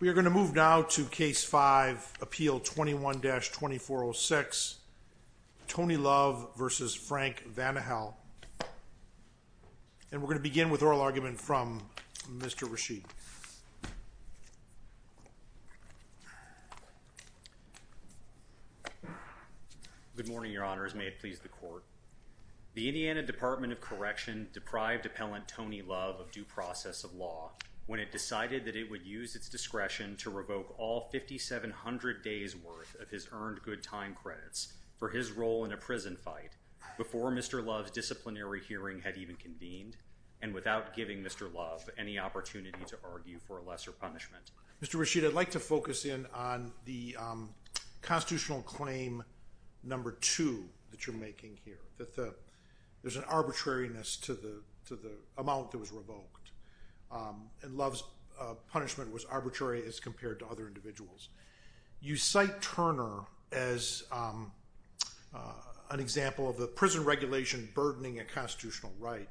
We are going to move now to Case 5, Appeal 21-2406, Tony Love v. Frank Vanihel. And we're going to begin with oral argument from Mr. Rasheed. Good morning, Your Honors. May it please the Court. The Indiana Department of Correction deprived Appellant Tony Love of due process of law when it decided that it would use its discretion to revoke all 5,700 days' worth of his earned good time credits for his role in a prison fight before Mr. Love's disciplinary hearing had even convened and without giving Mr. Love any opportunity to argue for a lesser punishment. Mr. Rasheed, I'd like to focus in on the Constitutional Claim No. 2 that you're making here, that there's an arbitrariness to the amount that was revoked, and Love's punishment was arbitrary as compared to other individuals. You cite Turner as an example of the prison regulation burdening a constitutional right.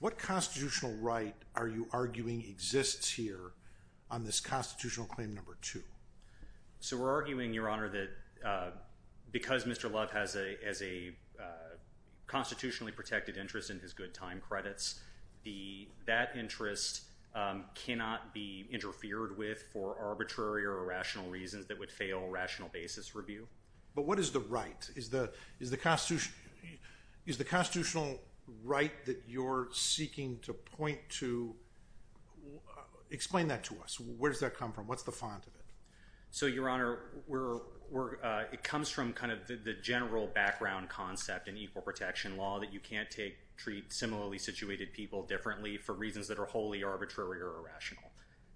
What constitutional right are you arguing exists here on this Constitutional Claim No. 2? So we're arguing, Your Honor, that because Mr. Love has a constitutionally protected interest in his good time credits, that interest cannot be interfered with for arbitrary or irrational reasons that would fail rational basis review. But what is the right? Is the constitutional right that you're seeking to point to? Explain that to us. Where does that come from? What's the font of it? So, Your Honor, it comes from kind of the general background concept in equal protection law that you can't treat similarly situated people differently for reasons that are wholly arbitrary or irrational.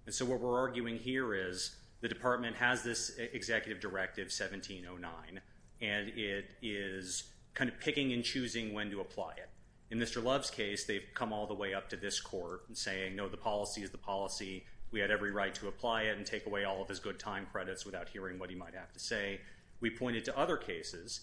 And so what we're arguing here is the Department has this Executive Directive 1709, and it is kind of picking and choosing when to apply it. In Mr. Love's case, they've come all the way up to this court and saying, no, the policy is the policy. We had every right to apply it and take away all of his good time credits without hearing what he might have to say. We pointed to other cases,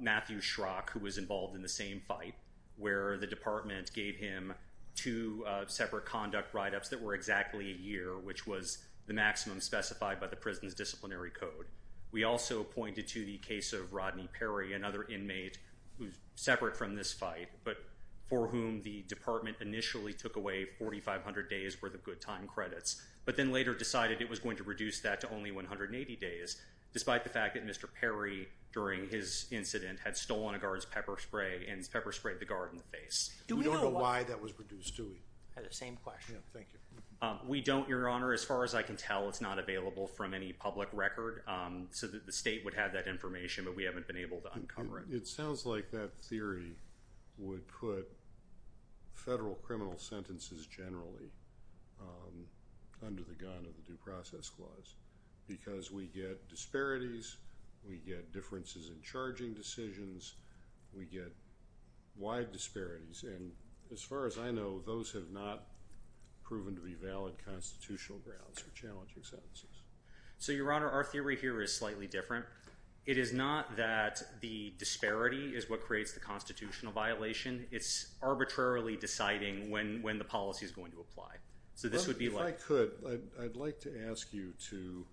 Matthew Schrock, who was involved in the same fight, where the Department gave him two separate conduct write-ups that were exactly a year, which was the maximum specified by the prison's disciplinary code. We also pointed to the case of Rodney Perry, another inmate who's separate from this fight, but for whom the Department initially took away 4,500 days' worth of good time credits, but then later decided it was going to reduce that to only 180 days, despite the fact that Mr. Perry, during his incident, had stolen a guard's pepper spray and pepper sprayed the guard in the face. We don't know why that was reduced, do we? I had the same question. Thank you. We don't, Your Honor. As far as I can tell, it's not available from any public record, so the state would have that information, but we haven't been able to uncover it. It sounds like that theory would put federal criminal sentences generally under the gun of the Due Process Clause because we get disparities, we get differences in charging decisions, we get wide disparities. As far as I know, those have not proven to be valid constitutional grounds for challenging sentences. Your Honor, our theory here is slightly different. It is not that the disparity is what creates the constitutional violation. It's arbitrarily deciding when the policy is going to apply. If I could, I'd like to ask you to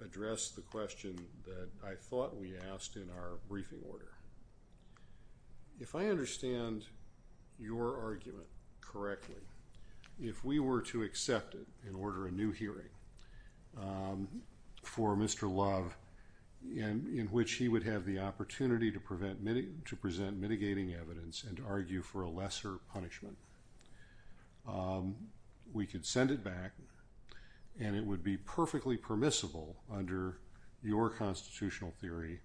address the question that I thought we asked in our briefing order. If I understand your argument correctly, if we were to accept it and order a new hearing for Mr. Love, in which he would have the opportunity to present mitigating evidence and argue for a lesser punishment, we could send it back and it would be perfectly permissible under your constitutional theory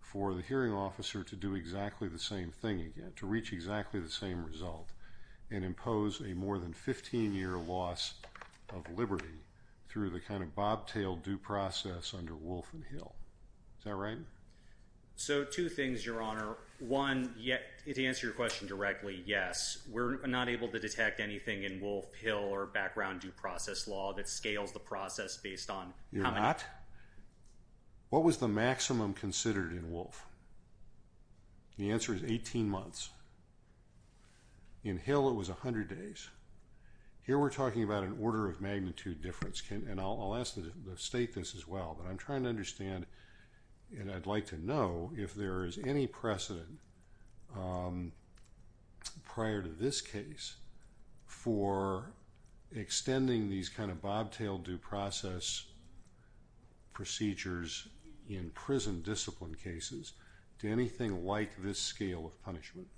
for the hearing officer to do exactly the same thing again, to reach exactly the same result and impose a more than 15-year loss of liberty through the kind of bobtailed due process under Wolf and Hill. Is that right? So, two things, Your Honor. One, to answer your question directly, yes. We're not able to detect anything in Wolf, Hill, or background due process law that scales the process based on how many... The answer is 18 months. In Hill, it was 100 days. Here we're talking about an order of magnitude difference, and I'll state this as well, but I'm trying to understand and I'd like to know if there is any precedent prior to this case for extending these kind of bobtailed due process procedures in prison discipline cases to anything like this scale of punishment.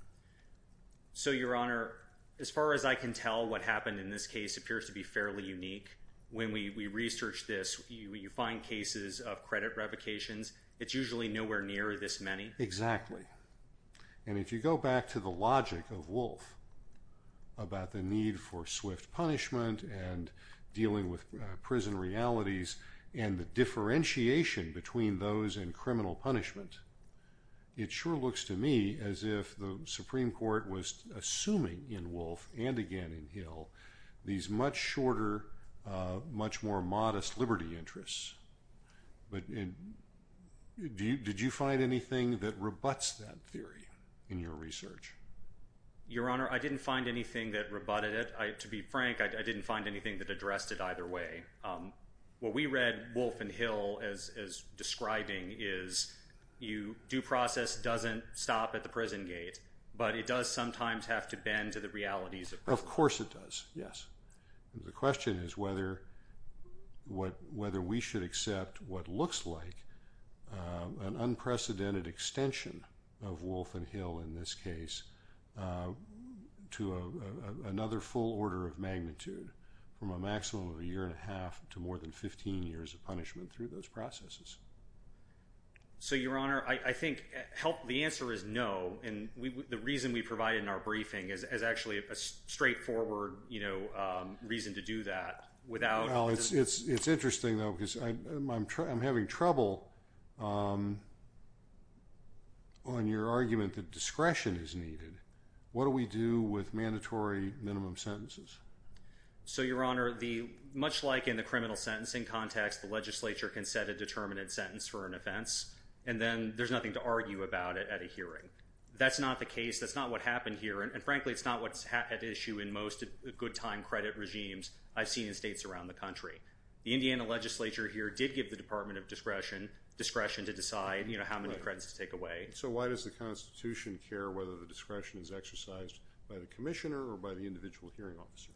So, Your Honor, as far as I can tell, what happened in this case appears to be fairly unique. When we researched this, you find cases of credit revocations. It's usually nowhere near this many. Exactly. And if you go back to the logic of Wolf about the need for swift punishment and dealing with prison realities and the differentiation between those and criminal punishment, it sure looks to me as if the Supreme Court was assuming in Wolf and again in Hill these much shorter, much more modest liberty interests. But did you find anything that rebutts that theory in your research? Your Honor, I didn't find anything that rebutted it. To be frank, I didn't find anything that addressed it either way. What we read Wolf and Hill as describing is due process doesn't stop at the prison gate, but it does sometimes have to bend to the realities of prison. Of course it does, yes. The question is whether we should accept what looks like an unprecedented extension of Wolf and Hill in this case to another full order of magnitude from a maximum of a year and a half to more than 15 years of punishment through those processes. So, Your Honor, I think the answer is no. The reason we provided in our briefing is actually a straightforward reason to do that. Well, it's interesting though because I'm having trouble on your argument that discretion is needed. What do we do with mandatory minimum sentences? So, Your Honor, much like in the criminal sentencing context, the legislature can set a determinate sentence for an offense and then there's nothing to argue about it at a hearing. That's not the case. That's not what happened here. And, frankly, it's not what's at issue in most good time credit regimes I've seen in states around the country. The Indiana legislature here did give the Department of Discretion discretion to decide how many credits to take away. So why does the Constitution care whether the discretion is exercised by the commissioner or by the individual hearing officer?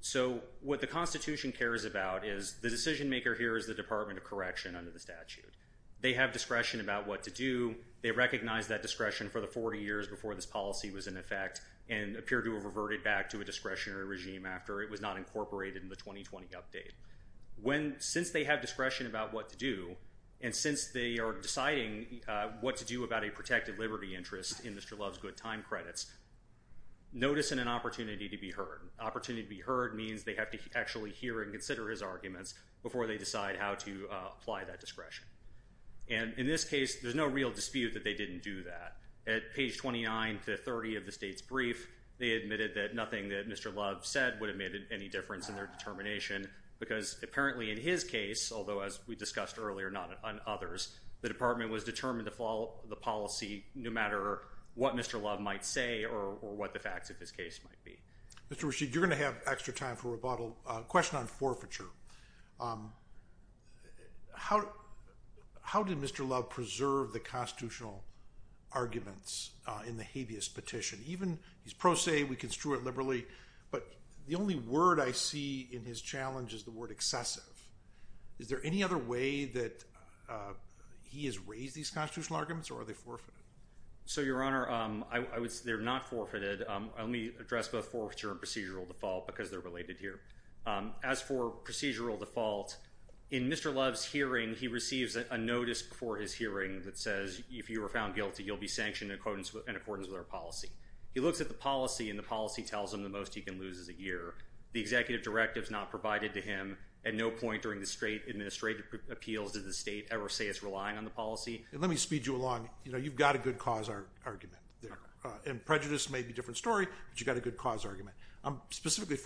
So what the Constitution cares about is the decision maker here is the Department of Correction under the statute. They have discretion about what to do. They recognize that discretion for the 40 years before this policy was in effect and appear to have reverted back to a discretionary regime after it was not incorporated in the 2020 update. Since they have discretion about what to do and since they are deciding what to do about a protected liberty interest in Mr. Love's good time credits, notice and an opportunity to be heard. Opportunity to be heard means they have to actually hear and consider his arguments before they decide how to apply that discretion. And in this case, there's no real dispute that they didn't do that. At page 29 to 30 of the state's brief, they admitted that nothing that Mr. Love said would have made any difference in their determination because apparently in his case, although as we discussed earlier, not on others, the department was determined to follow the policy no matter what Mr. Love might say or what the facts of his case might be. Question on forfeiture. How did Mr. Love preserve the constitutional arguments in the habeas petition? Even he's pro se, we can strew it liberally, but the only word I see in his challenge is the word excessive. Is there any other way that he has raised these constitutional arguments or are they forfeited? So, Your Honor, they're not forfeited. Let me address both forfeiture and procedural default because they're related here. As for procedural default, in Mr. Love's hearing, he receives a notice before his hearing that says, if you were found guilty, you'll be sanctioned in accordance with our policy. He looks at the policy, and the policy tells him the most he can lose is a year. The executive directive is not provided to him. At no point during the state administrative appeals did the state ever say it's relying on the policy. Let me speed you along. You know, you've got a good cause argument there. And prejudice may be a different story, but you've got a good cause argument. I'm specifically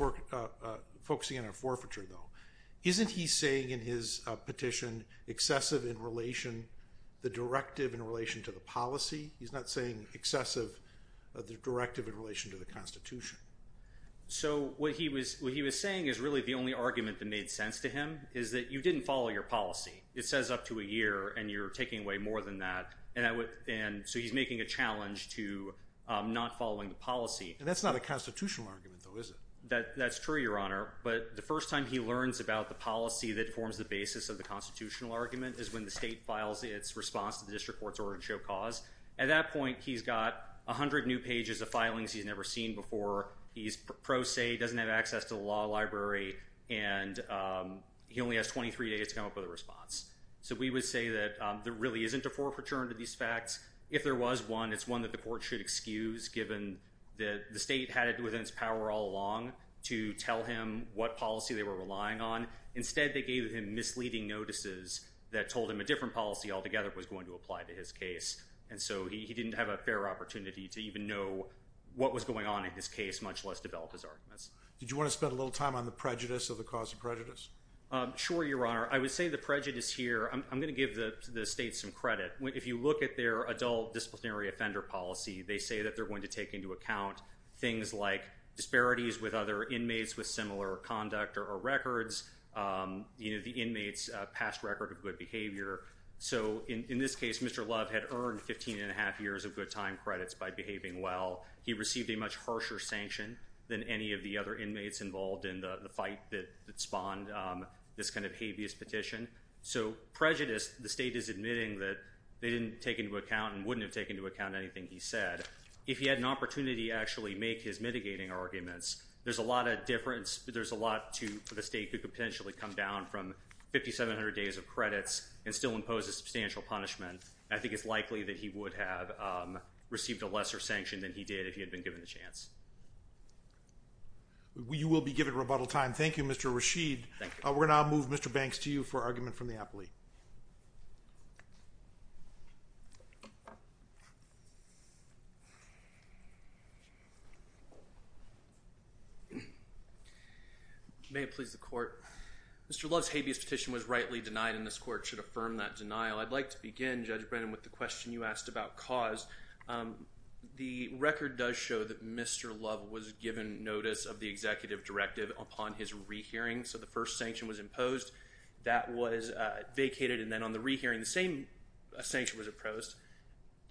focusing on a forfeiture, though. Isn't he saying in his petition excessive in relation, the directive in relation to the policy? He's not saying excessive, the directive in relation to the Constitution. So what he was saying is really the only argument that made sense to him is that you didn't follow your policy. It says up to a year, and you're taking away more than that. And so he's making a challenge to not following the policy. And that's not a constitutional argument, though, is it? That's true, Your Honor, but the first time he learns about the policy that forms the basis of the constitutional argument is when the state files its response to the district court's order to show cause. At that point, he's got 100 new pages of filings he's never seen before. He's pro se, doesn't have access to the law library, and he only has 23 days to come up with a response. So we would say that there really isn't a forfeiture under these facts. If there was one, it's one that the court should excuse, given that the state had it within its power all along to tell him what policy they were relying on. Instead, they gave him misleading notices that told him a different policy altogether was going to apply to his case. And so he didn't have a fair opportunity to even know what was going on in his case, much less develop his arguments. Did you want to spend a little time on the prejudice or the cause of prejudice? Sure, Your Honor. I would say the prejudice here, I'm going to give the state some credit. If you look at their adult disciplinary offender policy, they say that they're going to take into account things like disparities with other inmates with similar conduct or records, the inmate's past record of good behavior. So in this case, Mr. Love had earned 15 and a half years of good time credits by behaving well. He received a much harsher sanction than any of the other inmates involved in the fight that spawned this kind of habeas petition. So prejudice, the state is admitting that they didn't take into account and wouldn't have taken into account anything he said. If he had an opportunity to actually make his mitigating arguments, there's a lot of difference. There's a lot to the state who could potentially come down from 5,700 days of credits and still impose a substantial punishment. I think it's likely that he would have received a lesser sanction than he did if he had been given the chance. You will be given rebuttal time. Thank you, Mr. Rashid. Thank you. We're going to now move Mr. Banks to you for argument from the appellee. May it please the court. Mr. Love's habeas petition was rightly denied, and this court should affirm that denial. I'd like to begin, Judge Brennan, with the question you asked about cause. The record does show that Mr. Love was given notice of the executive directive upon his rehearing. So the first sanction was imposed. That was vacated. And then on the rehearing, the same sanction was opposed.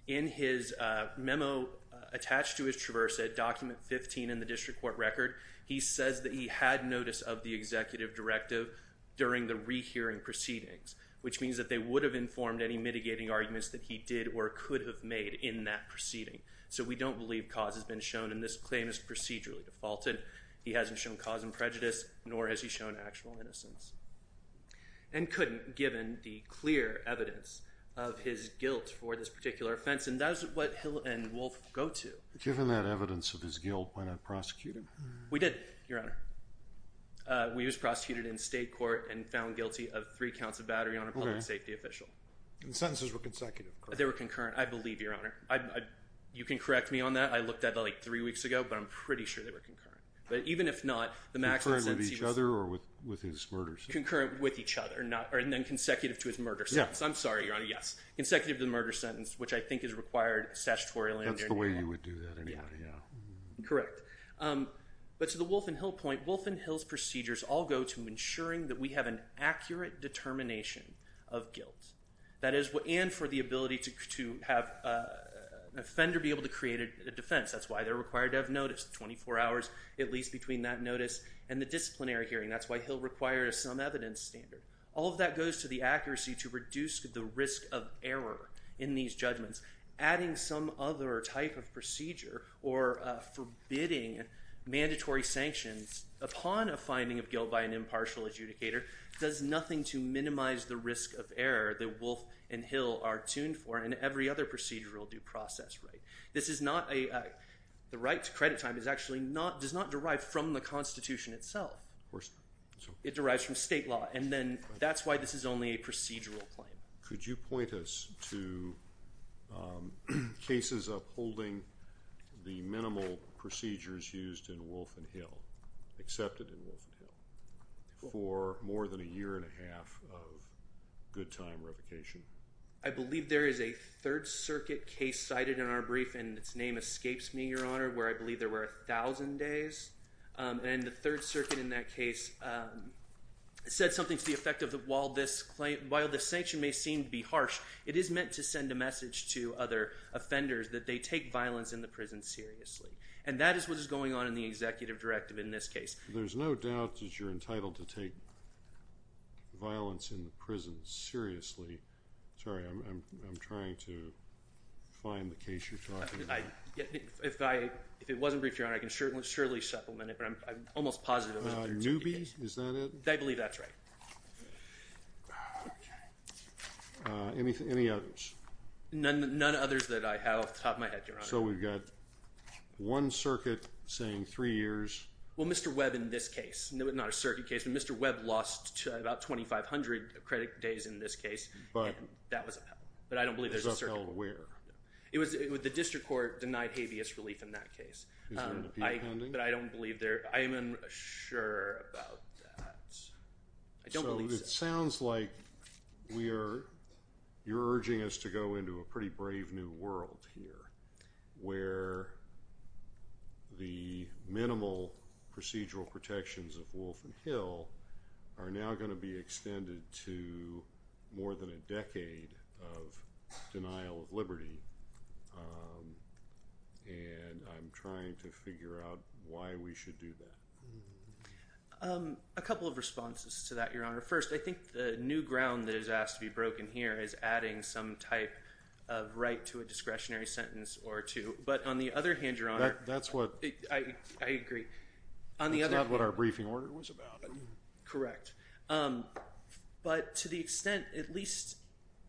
In his memo attached to his traverse, document 15 in the district court record, he says that he had notice of the executive directive during the rehearing proceedings, which means that they would have informed any mitigating arguments that he did or could have made in that proceeding. So we don't believe cause has been shown, and this claim is procedurally defaulted. He hasn't shown cause and prejudice, nor has he shown actual innocence. And couldn't, given the clear evidence of his guilt for this particular offense. And that is what Hill and Wolf go to. Given that evidence of his guilt, why not prosecute him? We did, Your Honor. We was prosecuted in state court and found guilty of three counts of battery on a public safety official. And the sentences were consecutive, correct? They were concurrent, I believe, Your Honor. You can correct me on that. I looked at it like three weeks ago, but I'm pretty sure they were concurrent. But even if not, the maximum sentence he was- Concurrent with each other or with his murder sentence? Concurrent with each other, and then consecutive to his murder sentence. I'm sorry, Your Honor, yes. Consecutive to the murder sentence, which I think is required statutorily under New England. That's the way you would do that anyway, yeah. Correct. But to the Wolf and Hill point, Wolf and Hill's procedures all go to ensuring that we have an accurate determination of guilt. That is, and for the ability to have an offender be able to create a defense. That's why they're required to have notice, 24 hours at least between that notice and the disciplinary hearing. That's why Hill requires some evidence standard. All of that goes to the accuracy to reduce the risk of error in these judgments. Adding some other type of procedure or forbidding mandatory sanctions upon a finding of guilt by an impartial adjudicator does nothing to minimize the risk of error that Wolf and Hill are tuned for. And every other procedure will do process right. This is not a- the right to credit time does not derive from the Constitution itself. Of course not. It derives from state law, and then that's why this is only a procedural claim. Could you point us to cases upholding the minimal procedures used in Wolf and Hill, accepted in Wolf and Hill, for more than a year and a half of good time revocation? I believe there is a Third Circuit case cited in our brief, and its name escapes me, Your Honor, where I believe there were 1,000 days. And the Third Circuit in that case said something to the effect of while this sanction may seem to be harsh, it is meant to send a message to other offenders that they take violence in the prison seriously. And that is what is going on in the executive directive in this case. There's no doubt that you're entitled to take violence in the prison seriously. Sorry, I'm trying to find the case you're talking about. If it wasn't briefed, Your Honor, I can surely supplement it, but I'm almost positive it wasn't the Third Circuit case. Newby? Is that it? I believe that's right. Okay. Any others? None others that I have off the top of my head, Your Honor. So we've got one circuit saying three years. Well, Mr. Webb in this case, not a circuit case, but Mr. Webb lost about 2,500 credit days in this case, and that was upheld. But I don't believe there's a circuit. It was upheld where? It was the district court denied habeas relief in that case. Is there an appeal pending? But I don't believe there – I am unsure about that. I don't believe so. But it sounds like we are – you're urging us to go into a pretty brave new world here where the minimal procedural protections of Wolf and Hill are now going to be extended to more than a decade of denial of liberty, and I'm trying to figure out why we should do that. A couple of responses to that, Your Honor. First, I think the new ground that is asked to be broken here is adding some type of right to a discretionary sentence or two. But on the other hand, Your Honor – That's what – I agree. That's not what our briefing order was about. Correct. But to the extent, at least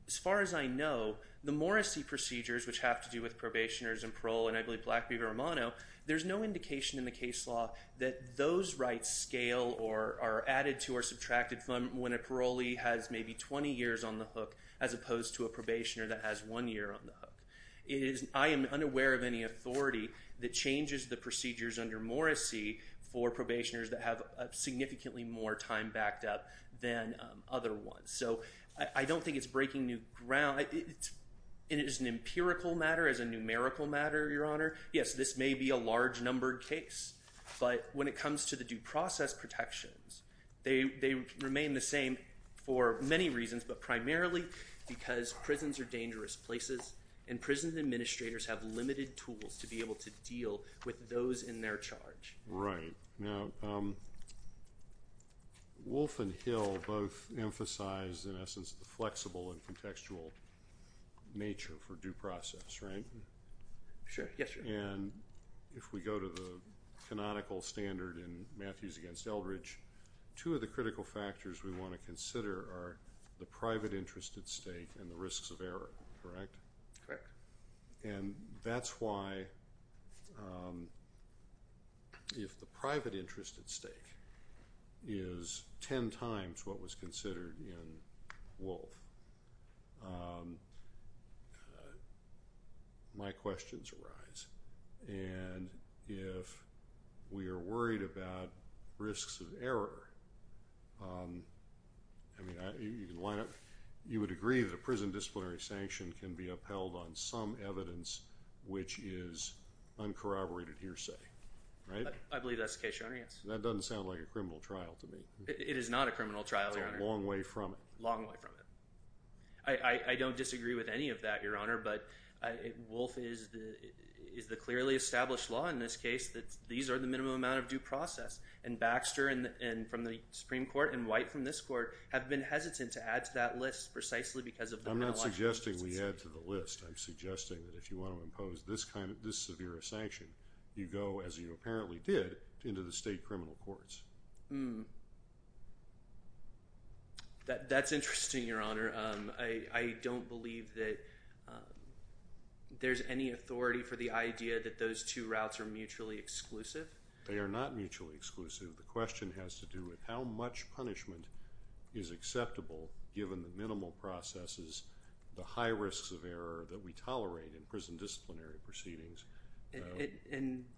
as far as I know, the Morrissey procedures, which have to do with probationers and parole, and I believe Blackbeaver-Romano, there's no indication in the case law that those rights scale or are added to or subtracted from when a parolee has maybe 20 years on the hook as opposed to a probationer that has one year on the hook. I am unaware of any authority that changes the procedures under Morrissey for probationers that have significantly more time backed up than other ones. So I don't think it's breaking new ground. It is an empirical matter. It's a numerical matter, Your Honor. Yes, this may be a large-numbered case. But when it comes to the due process protections, they remain the same for many reasons, but primarily because prisons are dangerous places and prison administrators have limited tools to be able to deal with those in their charge. Right. Now, Wolf and Hill both emphasize, in essence, the flexible and contextual nature for due process, right? Sure. Yes, Your Honor. And if we go to the canonical standard in Matthews v. Eldridge, two of the critical factors we want to consider are the private interest at stake and the risks of error, correct? Correct. And that's why if the private interest at stake is ten times what was considered in Wolf, my questions arise. And if we are worried about risks of error, you would agree that a prison disciplinary sanction can be upheld on some evidence which is uncorroborated hearsay, right? I believe that's the case, Your Honor, yes. That doesn't sound like a criminal trial to me. It is not a criminal trial, Your Honor. It's a long way from it. Long way from it. I don't disagree with any of that, Your Honor. But Wolf is the clearly established law in this case that these are the minimum amount of due process. And Baxter from the Supreme Court and White from this court have been hesitant to add to that list precisely because of the… I'm not suggesting we add to the list. I'm suggesting that if you want to impose this severe a sanction, you go, as you apparently did, into the state criminal courts. That's interesting, Your Honor. I don't believe that there's any authority for the idea that those two routes are mutually exclusive. They are not mutually exclusive. The question has to do with how much punishment is acceptable given the minimal processes, the high risks of error that we tolerate in prison disciplinary proceedings.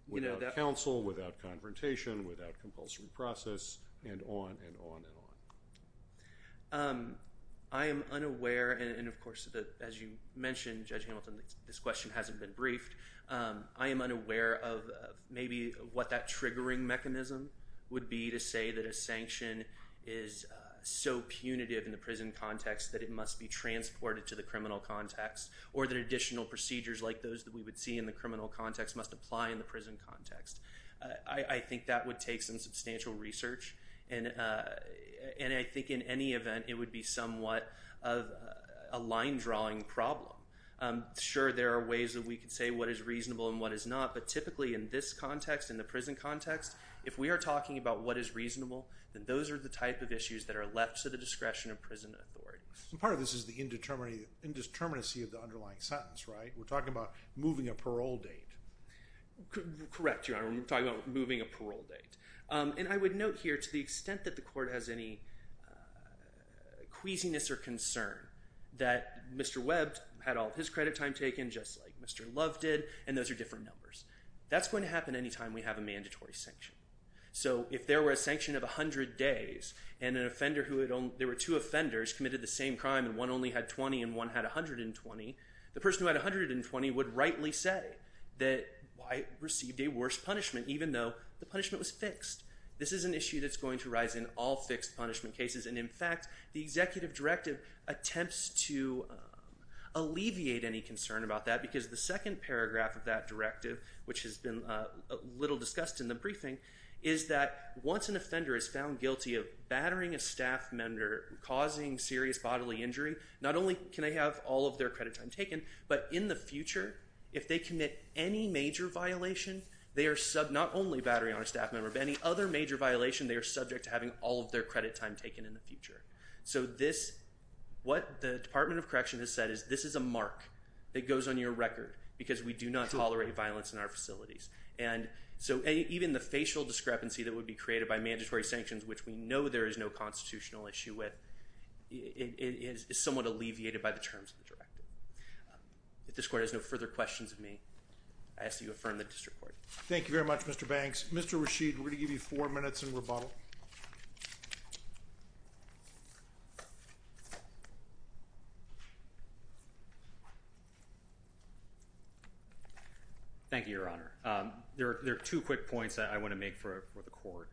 Without counsel, without confrontation, without compulsory process, and on and on and on. I am unaware, and of course, as you mentioned, Judge Hamilton, this question hasn't been briefed. I am unaware of maybe what that triggering mechanism would be to say that a sanction is so punitive in the prison context that it must be transported to the criminal context or that additional procedures like those that we would see in the criminal context must apply in the prison context. I think that would take some substantial research, and I think in any event it would be somewhat of a line-drawing problem. Sure, there are ways that we could say what is reasonable and what is not, but typically in this context, in the prison context, if we are talking about what is reasonable, then those are the type of issues that are left to the discretion of prison authorities. Part of this is the indeterminacy of the underlying sentence, right? We are talking about moving a parole date. Correct, Your Honor. We are talking about moving a parole date. I would note here to the extent that the court has any queasiness or concern that Mr. Webb had all of his credit time taken just like Mr. Love did, and those are different numbers. That is going to happen any time we have a mandatory sanction. So if there were a sanction of 100 days and there were two offenders who committed the same crime and one only had 20 and one had 120, the person who had 120 would rightly say that I received a worse punishment even though the punishment was fixed. This is an issue that is going to rise in all fixed punishment cases, and in fact, the executive directive attempts to alleviate any concern about that because the second paragraph of that directive, which has been a little discussed in the briefing, is that once an offender is found guilty of battering a staff member, causing serious bodily injury, not only can they have all of their credit time taken, but in the future, if they commit any major violation, not only battering on a staff member, but any other major violation, they are subject to having all of their credit time taken in the future. So what the Department of Correction has said is this is a mark that goes on your record because we do not tolerate violence in our facilities. And so even the facial discrepancy that would be created by mandatory sanctions, which we know there is no constitutional issue with, is somewhat alleviated by the terms of the directive. If this court has no further questions of me, I ask that you affirm the district court. Thank you very much, Mr. Banks. Mr. Rashid, we're going to give you four minutes in rebuttal. Thank you, Your Honor. There are two quick points that I want to make for the court.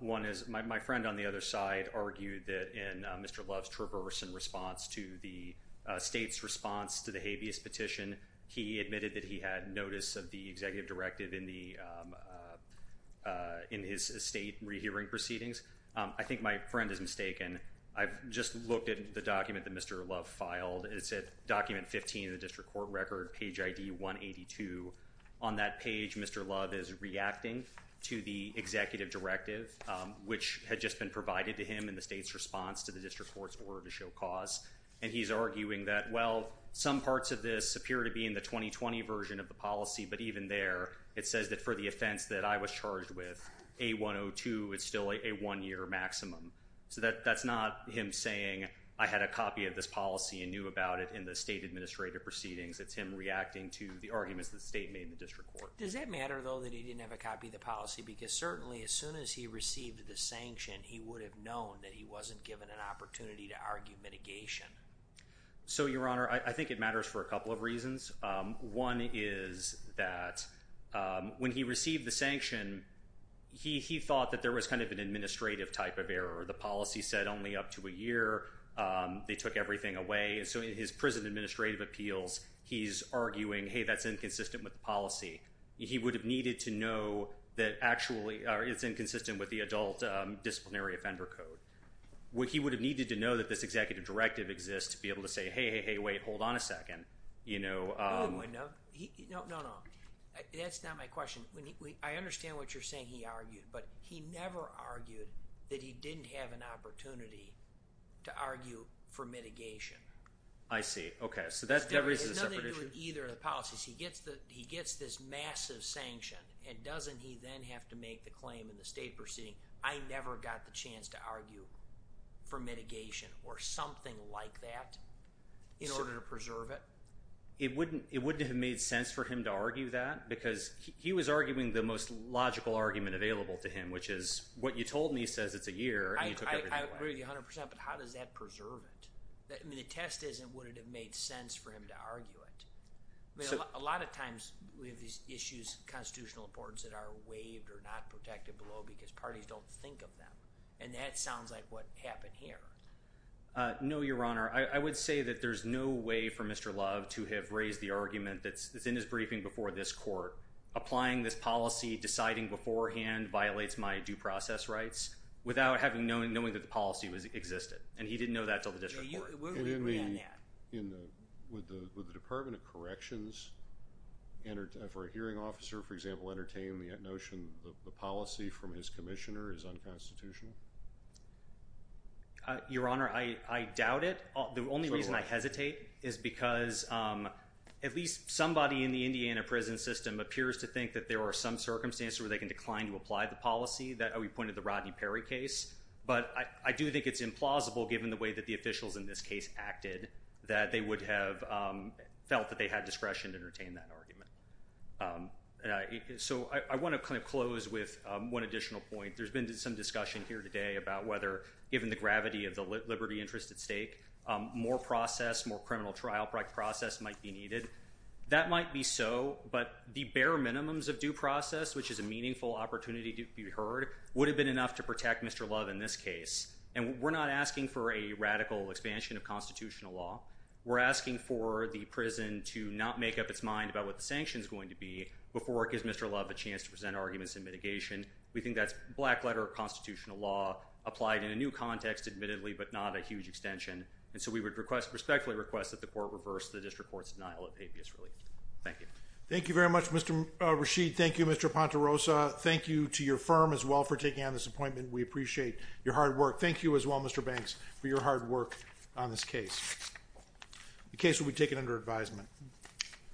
One is my friend on the other side argued that in Mr. Love's traverse in response to the state's response to the habeas petition, he admitted that he had notice of the executive directive in his estate rehearing proceedings. I think my friend is mistaken. I've just looked at the document that Mr. Love filed. It's at document 15 of the district court record, page ID 182. On that page, Mr. Love is reacting to the executive directive, which had just been provided to him in the state's response to the district court's order to show cause. And he's arguing that, well, some parts of this appear to be in the 2020 version of the policy, but even there, it says that for the offense that I was charged with, A102, it's still a one-year maximum. So that's not him saying I had a copy of this policy and knew about it in the state administrative proceedings. It's him reacting to the arguments that the state made in the district court. Does that matter, though, that he didn't have a copy of the policy? Because certainly as soon as he received the sanction, he would have known that he wasn't given an opportunity to argue mitigation. So, Your Honor, I think it matters for a couple of reasons. One is that when he received the sanction, he thought that there was kind of an administrative type of error. The policy said only up to a year. They took everything away. So in his prison administrative appeals, he's arguing, hey, that's inconsistent with the policy. He would have needed to know that actually it's inconsistent with the adult disciplinary offender code. He would have needed to know that this executive directive exists to be able to say, hey, hey, hey, wait, hold on a second. No, no, no. That's not my question. I understand what you're saying he argued, but he never argued that he didn't have an opportunity to argue for mitigation. I see. Okay, so that raises a separate issue. It has nothing to do with either of the policies. He gets this massive sanction, and doesn't he then have to make the claim in the state proceeding? I never got the chance to argue for mitigation or something like that in order to preserve it. It wouldn't have made sense for him to argue that because he was arguing the most logical argument available to him, which is what you told me says it's a year, and you took everything away. I agree 100 percent, but how does that preserve it? I mean, the test isn't would it have made sense for him to argue it. A lot of times we have these issues of constitutional importance that are waived or not protected below because parties don't think of them, and that sounds like what happened here. No, Your Honor. I would say that there's no way for Mr. Love to have raised the argument that's in his briefing before this court, applying this policy, deciding beforehand violates my due process rights, without knowing that the policy existed, and he didn't know that until the district court. We would agree on that. Would the Department of Corrections, for a hearing officer, for example, entertain the notion that the policy from his commissioner is unconstitutional? Your Honor, I doubt it. The only reason I hesitate is because at least somebody in the Indiana prison system appears to think that there are some circumstances where they can decline to apply the policy. We pointed to the Rodney Perry case. But I do think it's implausible, given the way that the officials in this case acted, that they would have felt that they had discretion to entertain that argument. So I want to kind of close with one additional point. There's been some discussion here today about whether, given the gravity of the liberty interest at stake, more process, more criminal trial process might be needed. That might be so, but the bare minimums of due process, which is a meaningful opportunity to be heard, would have been enough to protect Mr. Love in this case. And we're not asking for a radical expansion of constitutional law. We're asking for the prison to not make up its mind about what the sanction is going to be before it gives Mr. Love a chance to present arguments in mitigation. We think that's black-letter constitutional law applied in a new context, admittedly, but not a huge extension. And so we would respectfully request that the court reverse the district court's denial of habeas relief. Thank you. Thank you very much, Mr. Rashid. Thank you, Mr. Pontarosa. Thank you to your firm as well for taking on this appointment. We appreciate your hard work. Thank you as well, Mr. Banks, for your hard work on this case. The case will be taken under advisement.